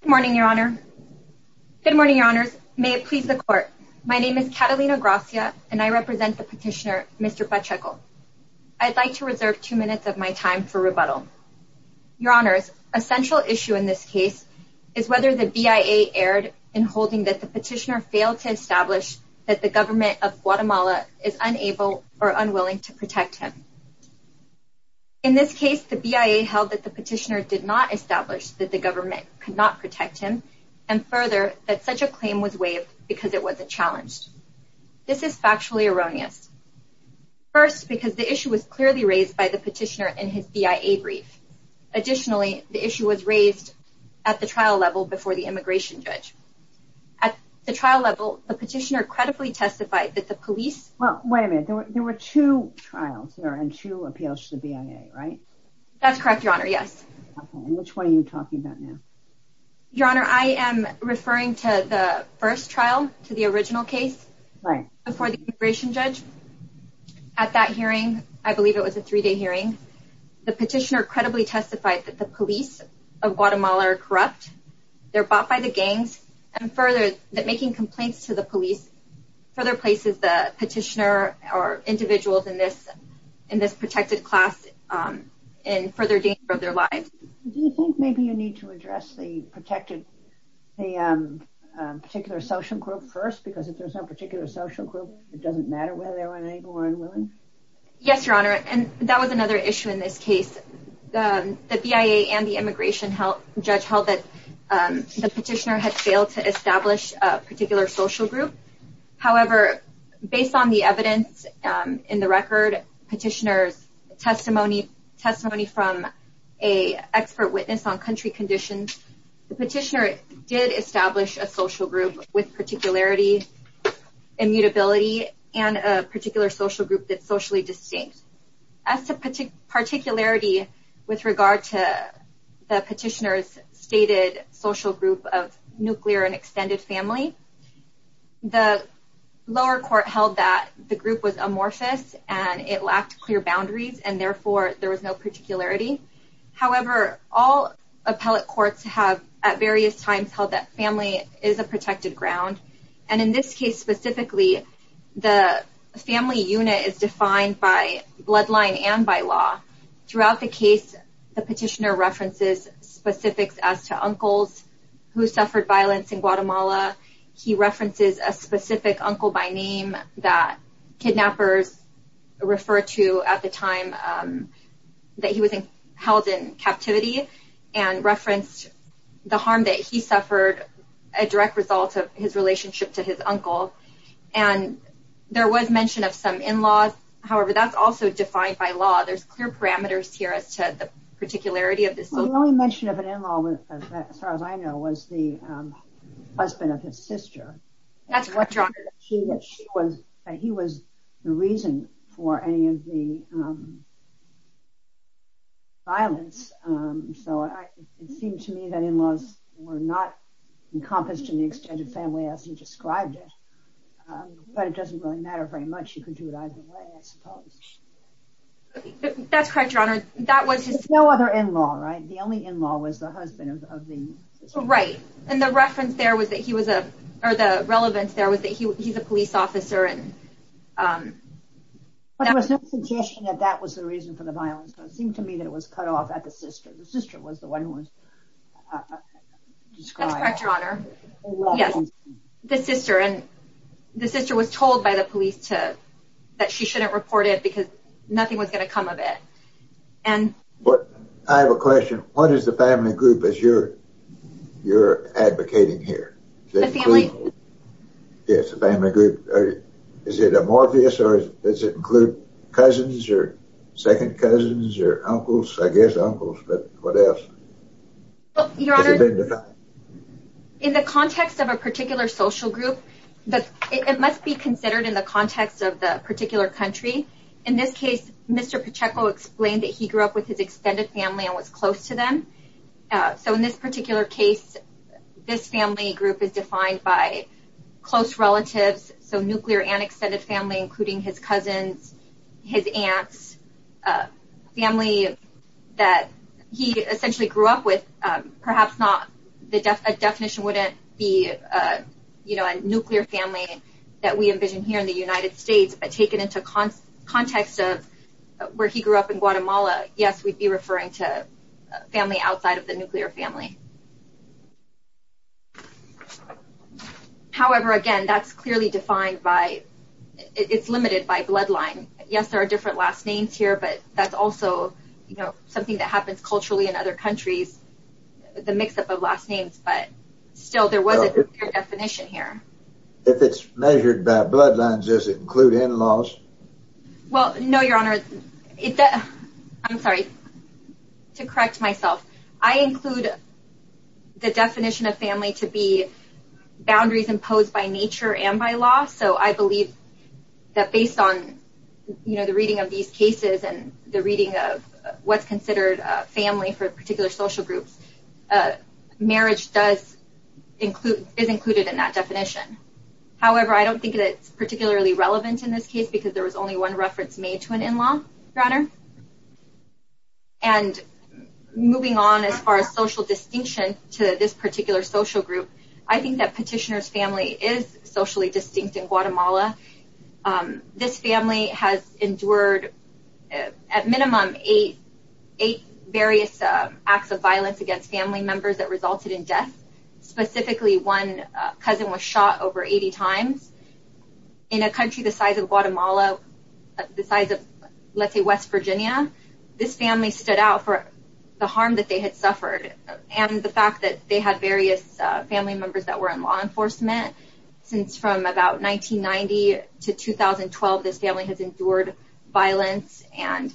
Good morning, Your Honor. Good morning, Your Honors. May it please the Court. My name is Catalina Gracia and I represent the petitioner, Mr. Pacheco. I'd like to reserve two minutes of my time for rebuttal. Your Honors, a central issue in this case is whether the BIA erred in holding that the petitioner failed to establish that the government of Guatemala is unable or unwilling to protect him. In this case, the BIA held that the petitioner did not establish that the government could not protect him, and further, that such a claim was waived because it wasn't challenged. This is factually erroneous. First, because the issue was clearly raised by the petitioner in his BIA brief. Additionally, the issue was raised at the trial level before the immigration judge. At the trial level, the petitioner credibly testified that the police... Well, wait a minute. There were two trials there and two appeals to the BIA, right? That's correct, Your Honor, yes. Which one are you talking about now? Your Honor, I am referring to the first trial, to the original case before the immigration judge. At that hearing, I believe it was a three-day hearing, the petitioner credibly testified that the police of Guatemala are corrupt, they're bought by the gangs, and further, that making complaints to the police further places the petitioner or individuals in this protected class in further danger of their lives. Do you think maybe you need to address the protected... the particular social group first? Because if there's no particular social group, it doesn't matter whether they're unable or unwilling? Yes, Your Honor, and that was another issue in this case. The BIA and the immigration judge held that the petitioner had failed to establish a particular social group. However, based on the evidence in the record, petitioner's testimony from an expert witness on country conditions, the petitioner did establish a social group with particularity, immutability, and a particular social group that's socially distinct. As to particularity with regard to the petitioner's stated social group of nuclear and extended family, the lower court held that the group was amorphous and it lacked clear boundaries, and therefore, there was no particularity. However, all appellate courts have, at various times, held that family is a protected ground, and in this case specifically, the family unit is defined by bloodline and by law. Throughout the case, the petitioner references specifics as to uncles who suffered violence in Guatemala. He references a specific uncle by name that kidnappers refer to at the time that he was held in captivity and referenced the harm that he suffered a direct result of his relationship to his uncle, and there was mention of some in-laws. However, that's also defined by law. There's clear parameters here as to the particularity of this. The only mention of an in-law, as far as I know, was the husband of his sister. He was the reason for any of the violence, so it seemed to me that in-laws were not encompassed in the extended family as you described it, but it doesn't really matter very much. You can do it either way, I suppose. That's correct, Your Honor. There was no other in-law, right? The only in-law was the husband of the sister. Right, and the reference there was that he was a, or the relevance there, was that he's a police officer. There was no suggestion that that was the reason for the violence. It seemed to me that it was cut off at the sister. The sister was the one who was described. That's correct, Your Honor. Yes, the sister, and the sister was told by the police that she shouldn't report it because nothing was going to come of it. I have a question. What is the family group that you're advocating here? Yes, the family group. Is it amorphous, or does it include cousins, or second cousins, or uncles? I guess uncles, but what else? Your Honor, in the context of a particular social group, it must be considered in the context of the particular country. In this case, Mr. Pacheco explained that he grew up with his extended family and was close to them, so in this particular case, this family group is defined by close relatives, so nuclear and extended family, including his cousins, his aunts, family that he essentially grew up with, perhaps not, a definition wouldn't be a nuclear family that we envision here in the United States, but taken into context of where he grew up in Guatemala, yes, we'd be referring to family outside of the nuclear family. However, again, that's clearly defined by, it's limited by bloodline. Yes, there are different last names here, but that's also something that happens culturally in other countries, the mix-up of last names, but still, there was a definition here. If it's measured by bloodlines, does it include in-laws? Well, no, Your Honor, I'm sorry, to correct myself, I include the definition of family to be boundaries imposed by nature and by law, so I believe that based on the reading of these cases and the reading of what's considered a family for particular social groups, marriage does include, is included in that definition. However, I don't think that it's particularly relevant in this case because there was only one reference made to an in-law, Your Honor, and moving on as far as social distinction to this particular social group, I think that Petitioner's family is socially distinct in Guatemala. This family has endured at minimum eight various acts of violence against family members that resulted in death, specifically one cousin was shot over 80 times. In a country the size of Guatemala, the size of, let's say, West Virginia, this family stood out for the harm that they had suffered and the fact that they had various family members that were in law enforcement since from about 1990 to 2012, this family has endured violence and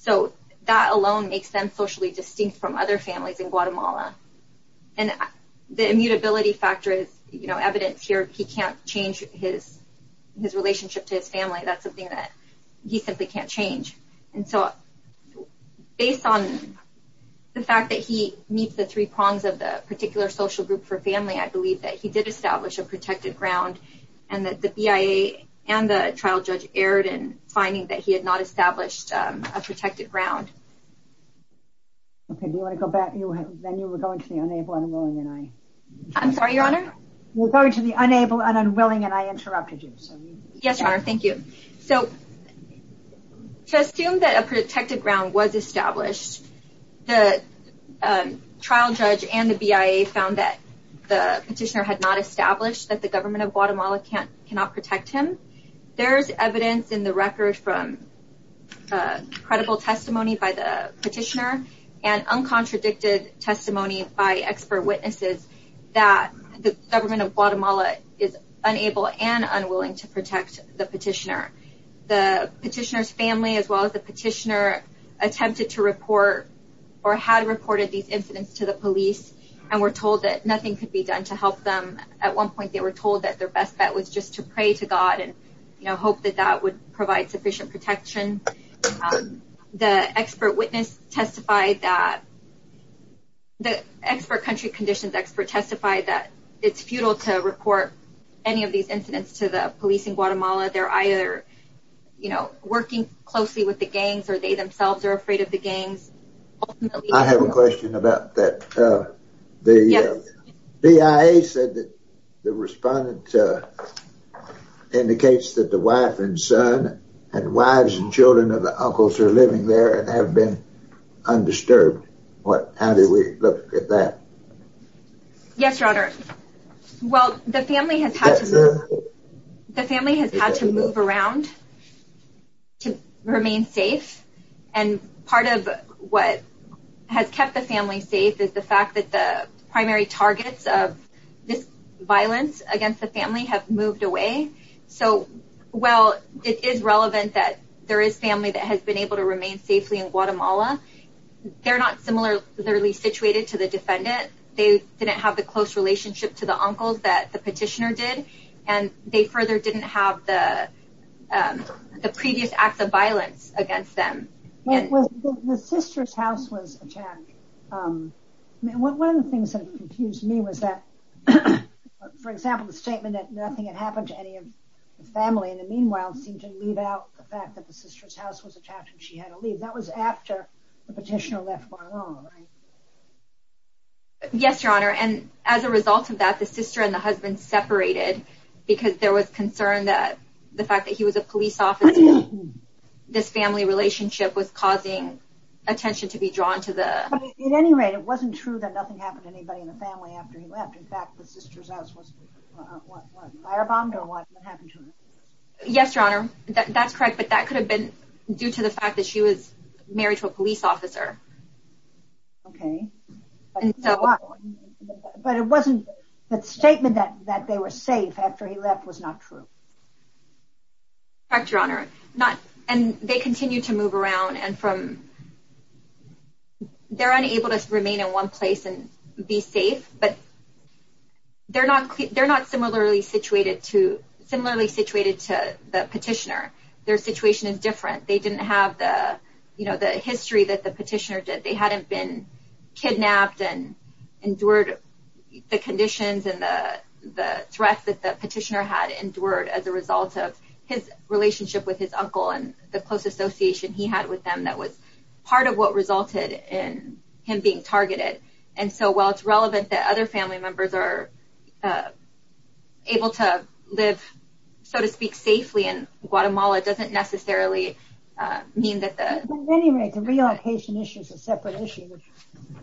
so that alone makes them socially distinct from other families in Guatemala. And the immutability factor is, you know, evidence here, he can't change his relationship to his family, that's something that he simply can't change. And so, based on the fact that he meets the three prongs of the particular social group for family, I believe that he did establish a protected ground and that the BIA and the trial judge erred in finding that he had not established a protected ground. Okay, do you want to go back? Then you were going to the unable and unwilling and I I'm sorry, Your Honor? You're going to the unable and unwilling and I interrupted you. Yes, Your Honor, thank you. So, to assume that a protected ground was established, the trial judge and the BIA found that the petitioner had not established that the government of Guatemala cannot protect him, there's evidence in the record from credible testimony by the petitioner and uncontradicted testimony by expert witnesses that the government of Guatemala is unable and unwilling to protect the petitioner. The petitioner's family, as well as the petitioner attempted to report or had reported these incidents to the police and were told that nothing could be done to help them. At one point, they were told that their best bet was just to pray to God and hope that that would provide sufficient protection. The expert witness testified that the expert country conditions expert testified that it's futile to report any of these incidents to the police in Guatemala. They're either you know, working closely with the gangs or they themselves are afraid of the gangs. I have a question about that. The BIA said that the respondent indicates that the wife and son and wives and children of the uncles are living there and have been undisturbed. How do we look at that? Yes, Your Honor. Well, the family has had to move around to remain safe. And part of what has kept the family safe is the fact that the primary targets of this violence against the family have moved away. So, well, it is relevant that there is family that has been able to remain safely in Guatemala. They're not similarly situated to the defendant. They didn't have the close relationship to the uncles that the and they further didn't have the previous acts of violence against them. The sister's house was attacked. One of the things that confused me was that, for example, the statement that nothing had happened to any of the family in the meanwhile seemed to leave out the fact that the sister's house was attacked and she had to leave. That was after the petitioner left Guatemala, right? Yes, Your Honor. And as a result of that, the sister and the husband separated because there was concern that the fact that he was a police officer, this family relationship was causing attention to be drawn to the... At any rate, it wasn't true that nothing happened to anybody in the family after he left. In fact, the sister's house was firebombed or what happened to her? Yes, Your Honor. That's correct. But that could have been due to the fact that she was married to a police officer. Okay. And so, but it wasn't that statement that they were safe after he left was not true. Correct, Your Honor. And they continue to move around and from... They're unable to remain in one place and be safe, but they're not similarly situated to similarly situated to the petitioner. Their situation is different. They didn't have the, history that the petitioner did. They hadn't been kidnapped and endured the conditions and the threat that the petitioner had endured as a result of his relationship with his uncle and the close association he had with them that was part of what resulted in him being targeted. And so, while it's relevant that other family members are able to live, so to speak, safely in Guatemala doesn't necessarily mean that the... At any rate, the relocation issue is a separate issue which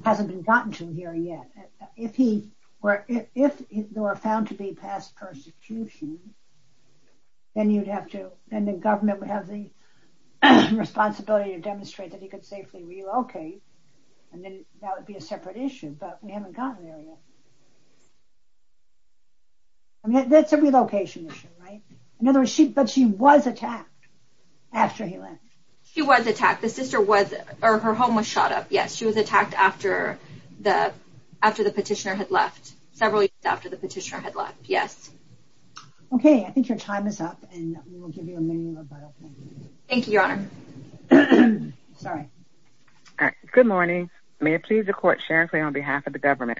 hasn't been gotten to here yet. If he were, if they were found to be past persecution, then you'd have to, then the government would have the responsibility to demonstrate that he could safely relocate. And then that would be a separate issue, but we haven't gotten there yet. I mean, that's a relocation issue, right? In other words, she, but she was attacked after he left. She was attacked. The sister was, or her home was shot up. Yes. She was attacked after the, after the petitioner had left, several years after the petitioner had left. Yes. Okay. I think your time is up and we will give you a minute. Thank you, Your Honor. Sorry. All right. Good morning. May it please the court, Sharon Clay on behalf of the government.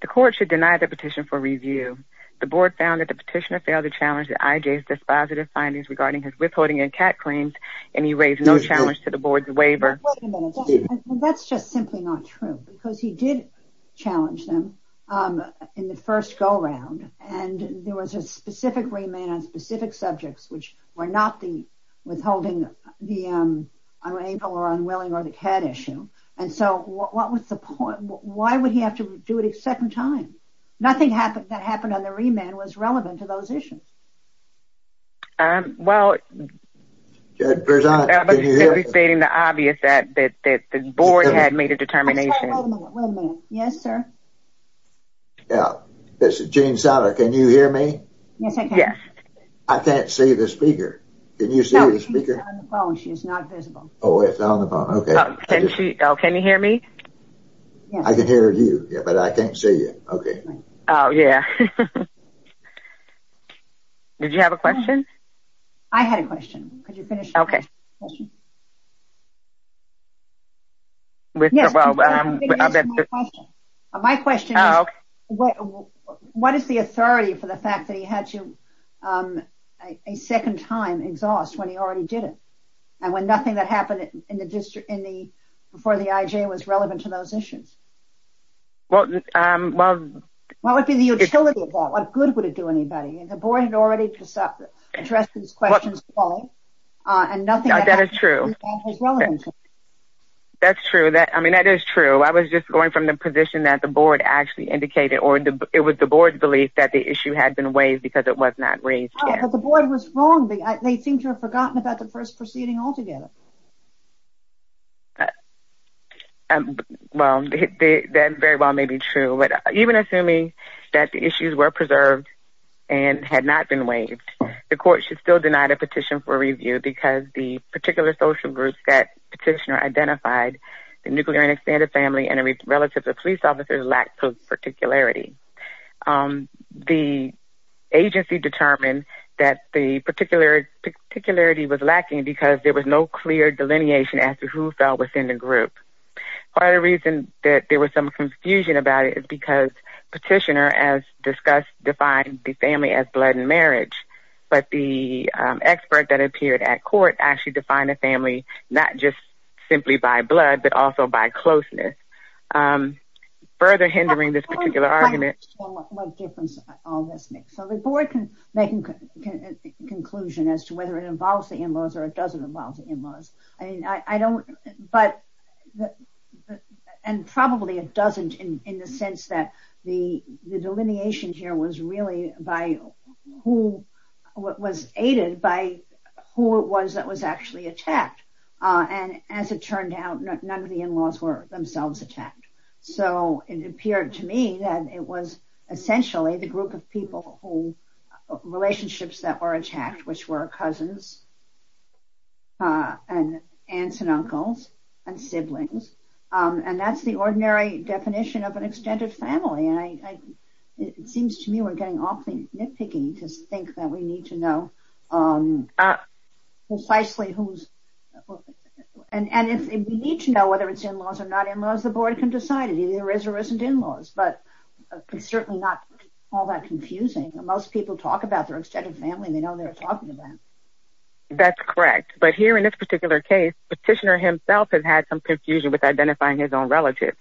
The court should deny the petition for review. The board found that the petitioner failed to challenge the IJ's dispositive findings regarding his withholding and cat claims, and he raised no challenge to the board's waiver. That's just simply not true because he did challenge them in the first go-round and there was a specific remand on specific subjects which were not the withholding, the unable or unwilling or the cat issue. And so what was the point? Why would he have to do it a second time? Nothing happened that happened on the remand was relevant to those issues. Well, it was stating the obvious that the board had made a determination. Yes, sir. Yeah, this is Gene Soutter. Can you hear me? Yes, I can. I can't see the speaker. Can you see the speaker? She's not visible. Oh, it's on the phone. Okay. Can you hear me? I can hear you. Yeah, but I can't see you. Okay. Oh, yeah. Did you have a question? I had a question. Could you finish? Okay. My question is, what is the authority for the fact that he had to a second time exhaust when he already did it? And when nothing that happened in the district in the before the IJ was relevant to those issues? What would be the utility of that? What good would it do anybody? And the board had already addressed these questions and nothing had happened. True. That's true that I mean, that is true. I was just going from the position that the board actually indicated or the it was the board's belief that the issue had been waived because it was not raised. The board was wrong. They seem to have forgotten about the first proceeding altogether. Well, that very well may be true. But even assuming that the issues were preserved, and had not been waived, the court should still deny the petition for review because the particular social groups that petitioner identified, the nuclear and expanded family and relatives of police officers lack particularity. The agency determined that the particularity was lacking because there was no clear delineation as to who fell within the group. Part of the reason that there was some confusion about it is because petitioner as discussed defined the family as marriage. But the expert that appeared at court actually defined a family, not just simply by blood, but also by closeness. Further hindering this particular argument. The board can make a conclusion as to whether it involves the in-laws or it doesn't involve the in-laws. I mean, I don't but and probably it doesn't in the sense that the delineation here was really by who was aided by who it was that was actually attacked. And as it turned out, none of the in-laws were themselves attacked. So it appeared to me that it was essentially the group of people who relationships that were attacked, which were cousins, and aunts and uncles, and siblings. And that's the ordinary definition of an extended family. It seems to me we're getting off the nitpicking to think that we need to know precisely who's and if we need to know whether it's in-laws or not in-laws, the board can decide it either is or isn't in-laws. But it's certainly not all that confusing. Most people talk about their extended family. They know they're talking about. That's correct. But here in this particular case, petitioner himself has had some confusion with identifying his own relatives.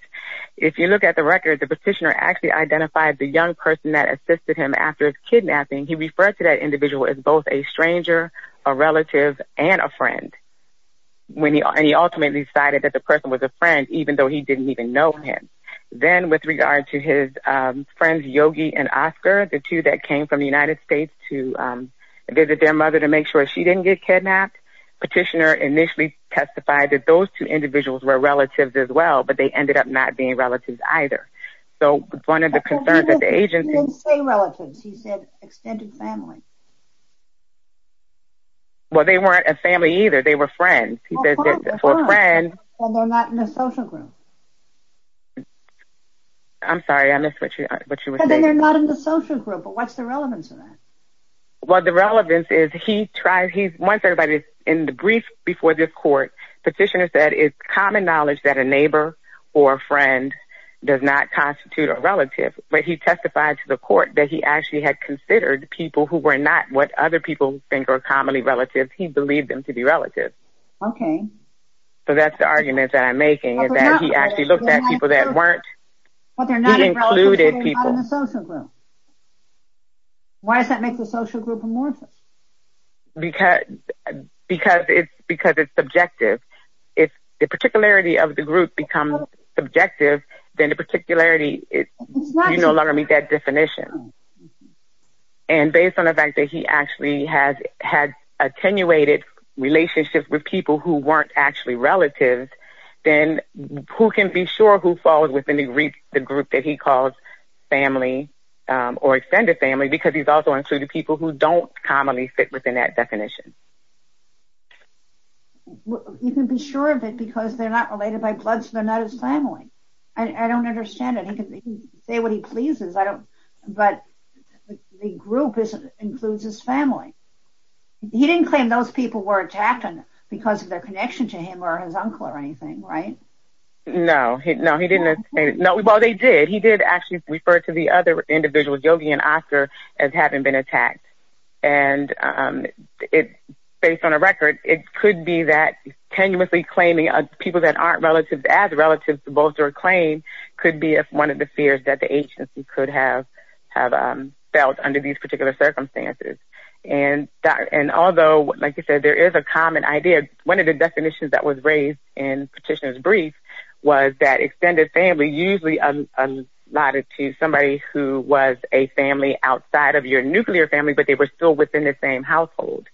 If you look at the record, the petitioner actually identified the young person that assisted him after his kidnapping. He referred to that individual as both a stranger, a relative, and a friend. And he ultimately decided that the person was a friend, even though he didn't even know him. Then with regard to his friends, Yogi and Oscar, the two that came from the United States to visit their mother to make sure she didn't get kidnapped. Petitioner initially testified that those two individuals were relatives as well, but they ended up not being relatives either. So one of the concerns of the agency... He didn't say relatives. He said extended family. Well, they weren't a family either. They were friends. He says that for a friend... Well, they're not in a social group. I'm sorry. I missed what you were saying. Because they're not in the social group. But what's the relevance of that? Well, the relevance is he tried... Once everybody's in the brief before this court, petitioner said it's common knowledge that a neighbor or a friend does not constitute a relative. But he testified to the court that he actually had considered people who were not what other people think are commonly relatives. He believed them to be relatives. So that's the argument that I'm making is that he actually looked at people that weren't... But they're not in the social group. Why does that make the social group amorphous? Because it's subjective. If the particularity of the group becomes subjective, then the particularity... You no longer meet that definition. And based on the fact that he actually had attenuated relationships with people who weren't actually relatives, then who can be sure who falls within the group that he calls family or extended family? Because he's also included people who don't commonly fit within that definition. You can be sure of it because they're not related by blood, so they're not his family. I don't understand it. He can say what he pleases. But the group includes his family. He didn't claim those people were attacked because of their connection to him or his uncle or anything, right? No. No, he didn't. Well, they did. He did actually refer to the other individuals, Yogi and Oscar, as having been attacked. And based on a record, it could be that tenuously claiming people that aren't relatives as relatives supposed to reclaim could be one of the fears that the agency could have felt under these particular circumstances. And although, like you said, there is a common idea, one of the definitions that was raised in Petitioner's Brief was that extended family usually allotted to somebody who was a family outside of your nuclear family, but they were still within the same household.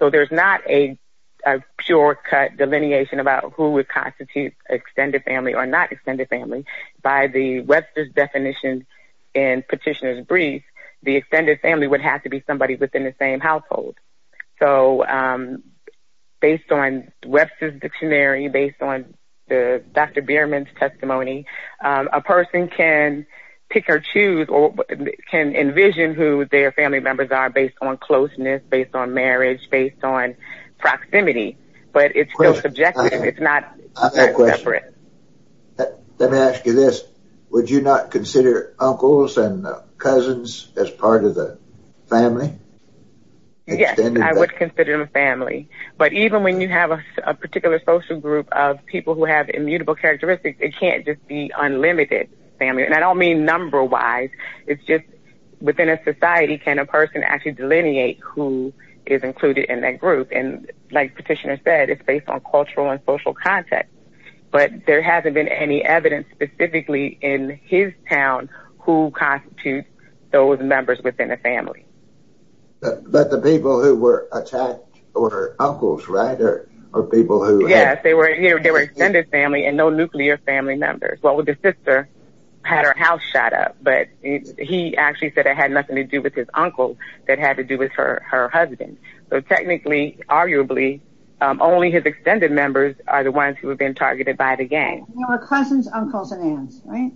So there's not a pure cut delineation about who would constitute extended family or not extended family. By the Webster's definition in Petitioner's Brief, the extended family would have to be somebody within the same household. So based on Webster's dictionary, based on Dr. Bierman's testimony, a person can pick or choose or can envision who their family members are based on closeness, based on marriage, based on proximity. But it's still subjective. It's not separate. Let me ask you this. Would you not consider uncles and cousins as part of the family? Yes, I would consider them a family. But even when you have a particular social group of people who have immutable characteristics, it can't just be unlimited family. And I don't mean number wise. It's just within a society, can a person actually delineate who is included in that group? And like Petitioner said, it's based on cultural and social context. But there hasn't been any evidence specifically in his town who constitutes those members within the family. But the people who were attacked were uncles, right? Or people who... Yes, they were extended family and no nuclear family members. Well, the sister had her house shot up, but he actually said it had nothing to do with his uncle that had to do with her husband. So technically, arguably, only his extended members are the ones who have been targeted by the gang. They were cousins, uncles, and aunts, right?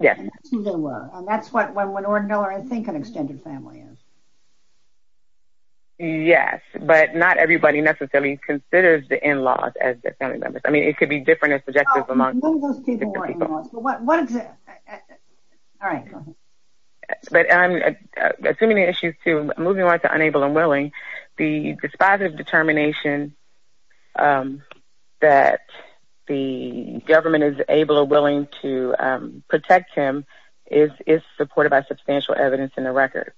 Yes. And that's who they were. And that's what an ordinal or I think an extended family is. Yes, but not everybody necessarily considers the in-laws as their family members. I mean, it could be different and subjective among... No, none of those people were in-laws. But what... All right, go ahead. But assuming the issues to... Moving on to unable and willing, the dispositive determination that the government is able or willing to protect him is supported by substantial evidence in the record.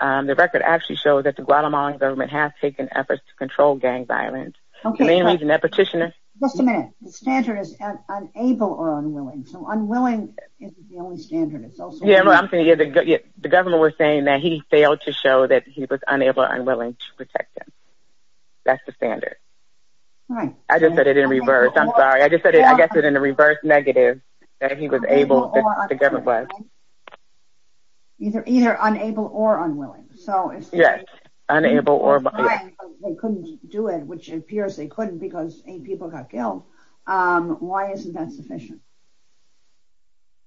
The record actually shows that the Guatemalan government has taken efforts to control gang violence, mainly in that petitioner... Just a minute. The standard is unable or unwilling. So unwilling is the only standard. Yeah, I'm saying the government was saying that he failed to show that he was unable or unwilling to protect him. That's the standard. I just said it in reverse. I'm sorry. I just said it, I guess it in a reverse negative that he was able to... Either unable or unwilling. So it's... Yes, unable or... They couldn't do it, which appears they couldn't because eight people got killed. Why isn't that sufficient?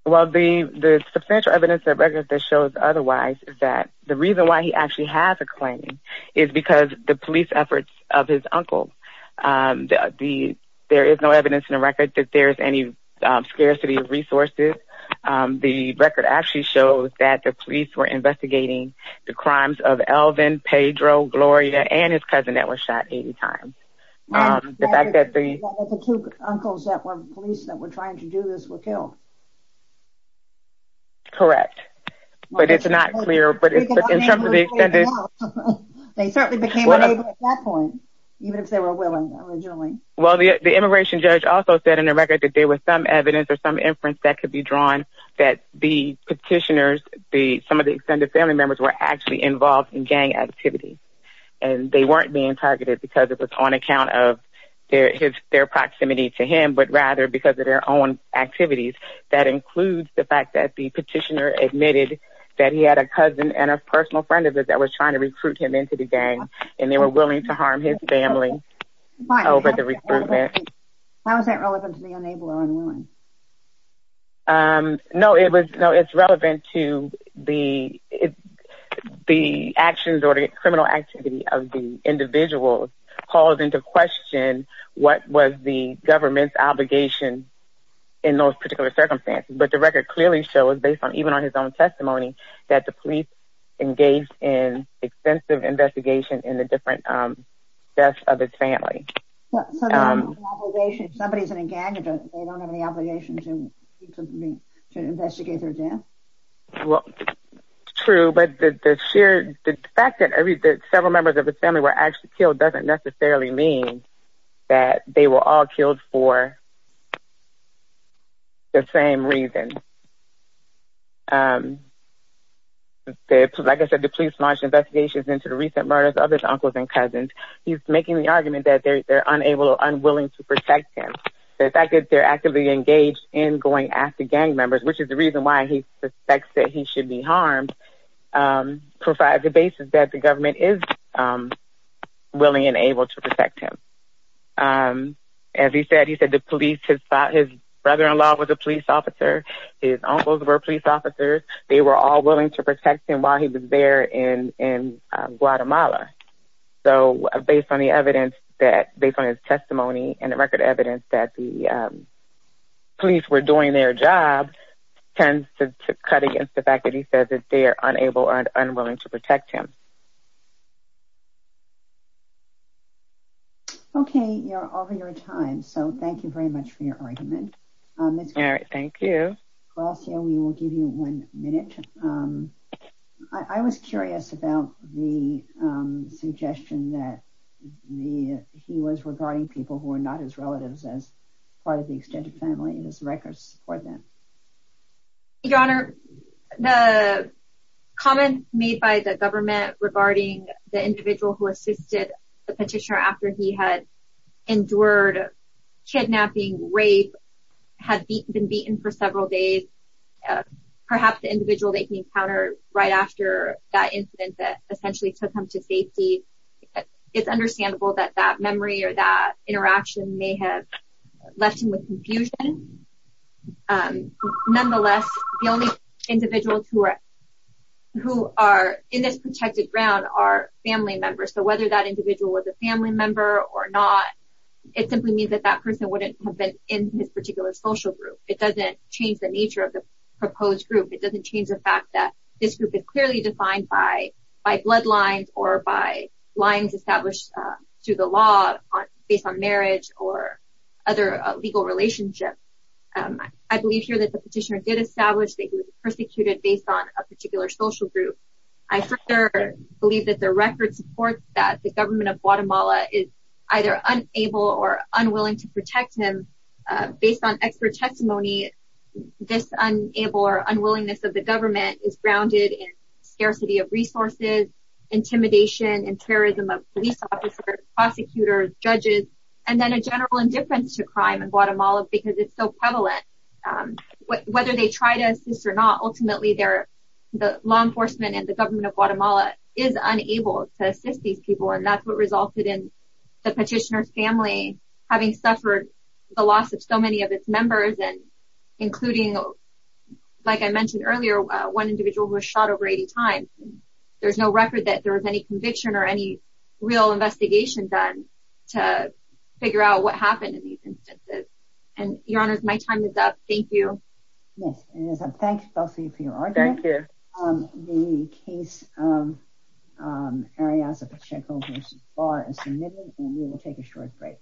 Well, the substantial evidence that records that shows otherwise is that the reason why he actually has a claim is because the police efforts of his uncle. There is no evidence in the record that there's any scarcity of resources. The record actually shows that the police were investigating the crimes of Elvin, Pedro, Gloria, and his cousin that were shot 80 times. The fact that the... That the two uncles that were police that were trying to do this were killed. Correct. But it's not clear, but in terms of the extended... They certainly became unable at that point, even if they were willing originally. Well, the immigration judge also said in the record that there was some evidence or some inference that could be drawn that the petitioners, some of the extended family members, were actually involved in gang activities. And they weren't being targeted because it was on account of their proximity to him, but rather because of their own activities. That includes the fact that the petitioner admitted that he had a cousin and a personal friend of his that was trying to recruit him into the gang, and they were willing to harm his family over the recruitment. How is that relevant to the unable or unwilling? No, it was... No, it's relevant to the actions or the criminal activity of the individuals called into question what was the government's obligation in those particular circumstances. But the record clearly shows, based on even on his own testimony, that the police engaged in extensive investigation in the different deaths of his family. So, the government's obligation, if somebody's in a gang, they don't have any obligation to investigate their death? Well, true, but the fact that several members of the family were actually killed doesn't necessarily mean that they were all killed for the same reason. Like I said, the police launched investigations into the recent murders of his uncles and cousins. He's making the argument that they're unable or unwilling to protect him. The fact that they're actively engaged in going after gang members, which is the reason why he suspects that he should be harmed, provides the basis that the government is willing and able to protect him. As he said, his brother-in-law was a police officer. His uncles were police officers. They were all willing to protect him while he was there in Guatemala. So, based on the evidence, based on his testimony and the record evidence that the police were doing their job, tends to cut against the fact that he says that they are unable and unwilling to protect him. Okay, you're over your time. So, thank you very much for your argument. All right, thank you. Gracia, we will give you one minute. I was curious about the suggestion that he was regarding people who are not his relatives as part of the extended family, and his records support that. Your Honor, the comments made by the government regarding the individual who assisted the petitioner after he had endured kidnapping, rape, had been beaten for several days, perhaps the individual that he encountered right after that incident that essentially took him to safety, it's understandable that that memory or that interaction may have left him with confusion. Nonetheless, the only individuals who are in this protected ground are family members. So, whether that individual was a social group, it doesn't change the nature of the proposed group. It doesn't change the fact that this group is clearly defined by bloodlines or by lines established through the law based on marriage or other legal relationships. I believe here that the petitioner did establish that he was persecuted based on a particular social group. I further believe that the record supports that the government of Guatemala is either unable or unwilling to protect him. Based on expert testimony, this unwillingness of the government is grounded in scarcity of resources, intimidation, and terrorism of police officers, prosecutors, judges, and then a general indifference to crime in Guatemala because it's so prevalent. Whether they try to assist or not, ultimately, the law enforcement and the government of Guatemala is unable to assist these people, and that's what resulted in the petitioner's family having suffered the loss of so many of its members, including, like I mentioned earlier, one individual who was shot over 80 times. There's no record that there was any conviction or any real investigation done to figure out what happened. Thank you. The case of Arias Pacheco versus Barr is submitted, and we will take a short break.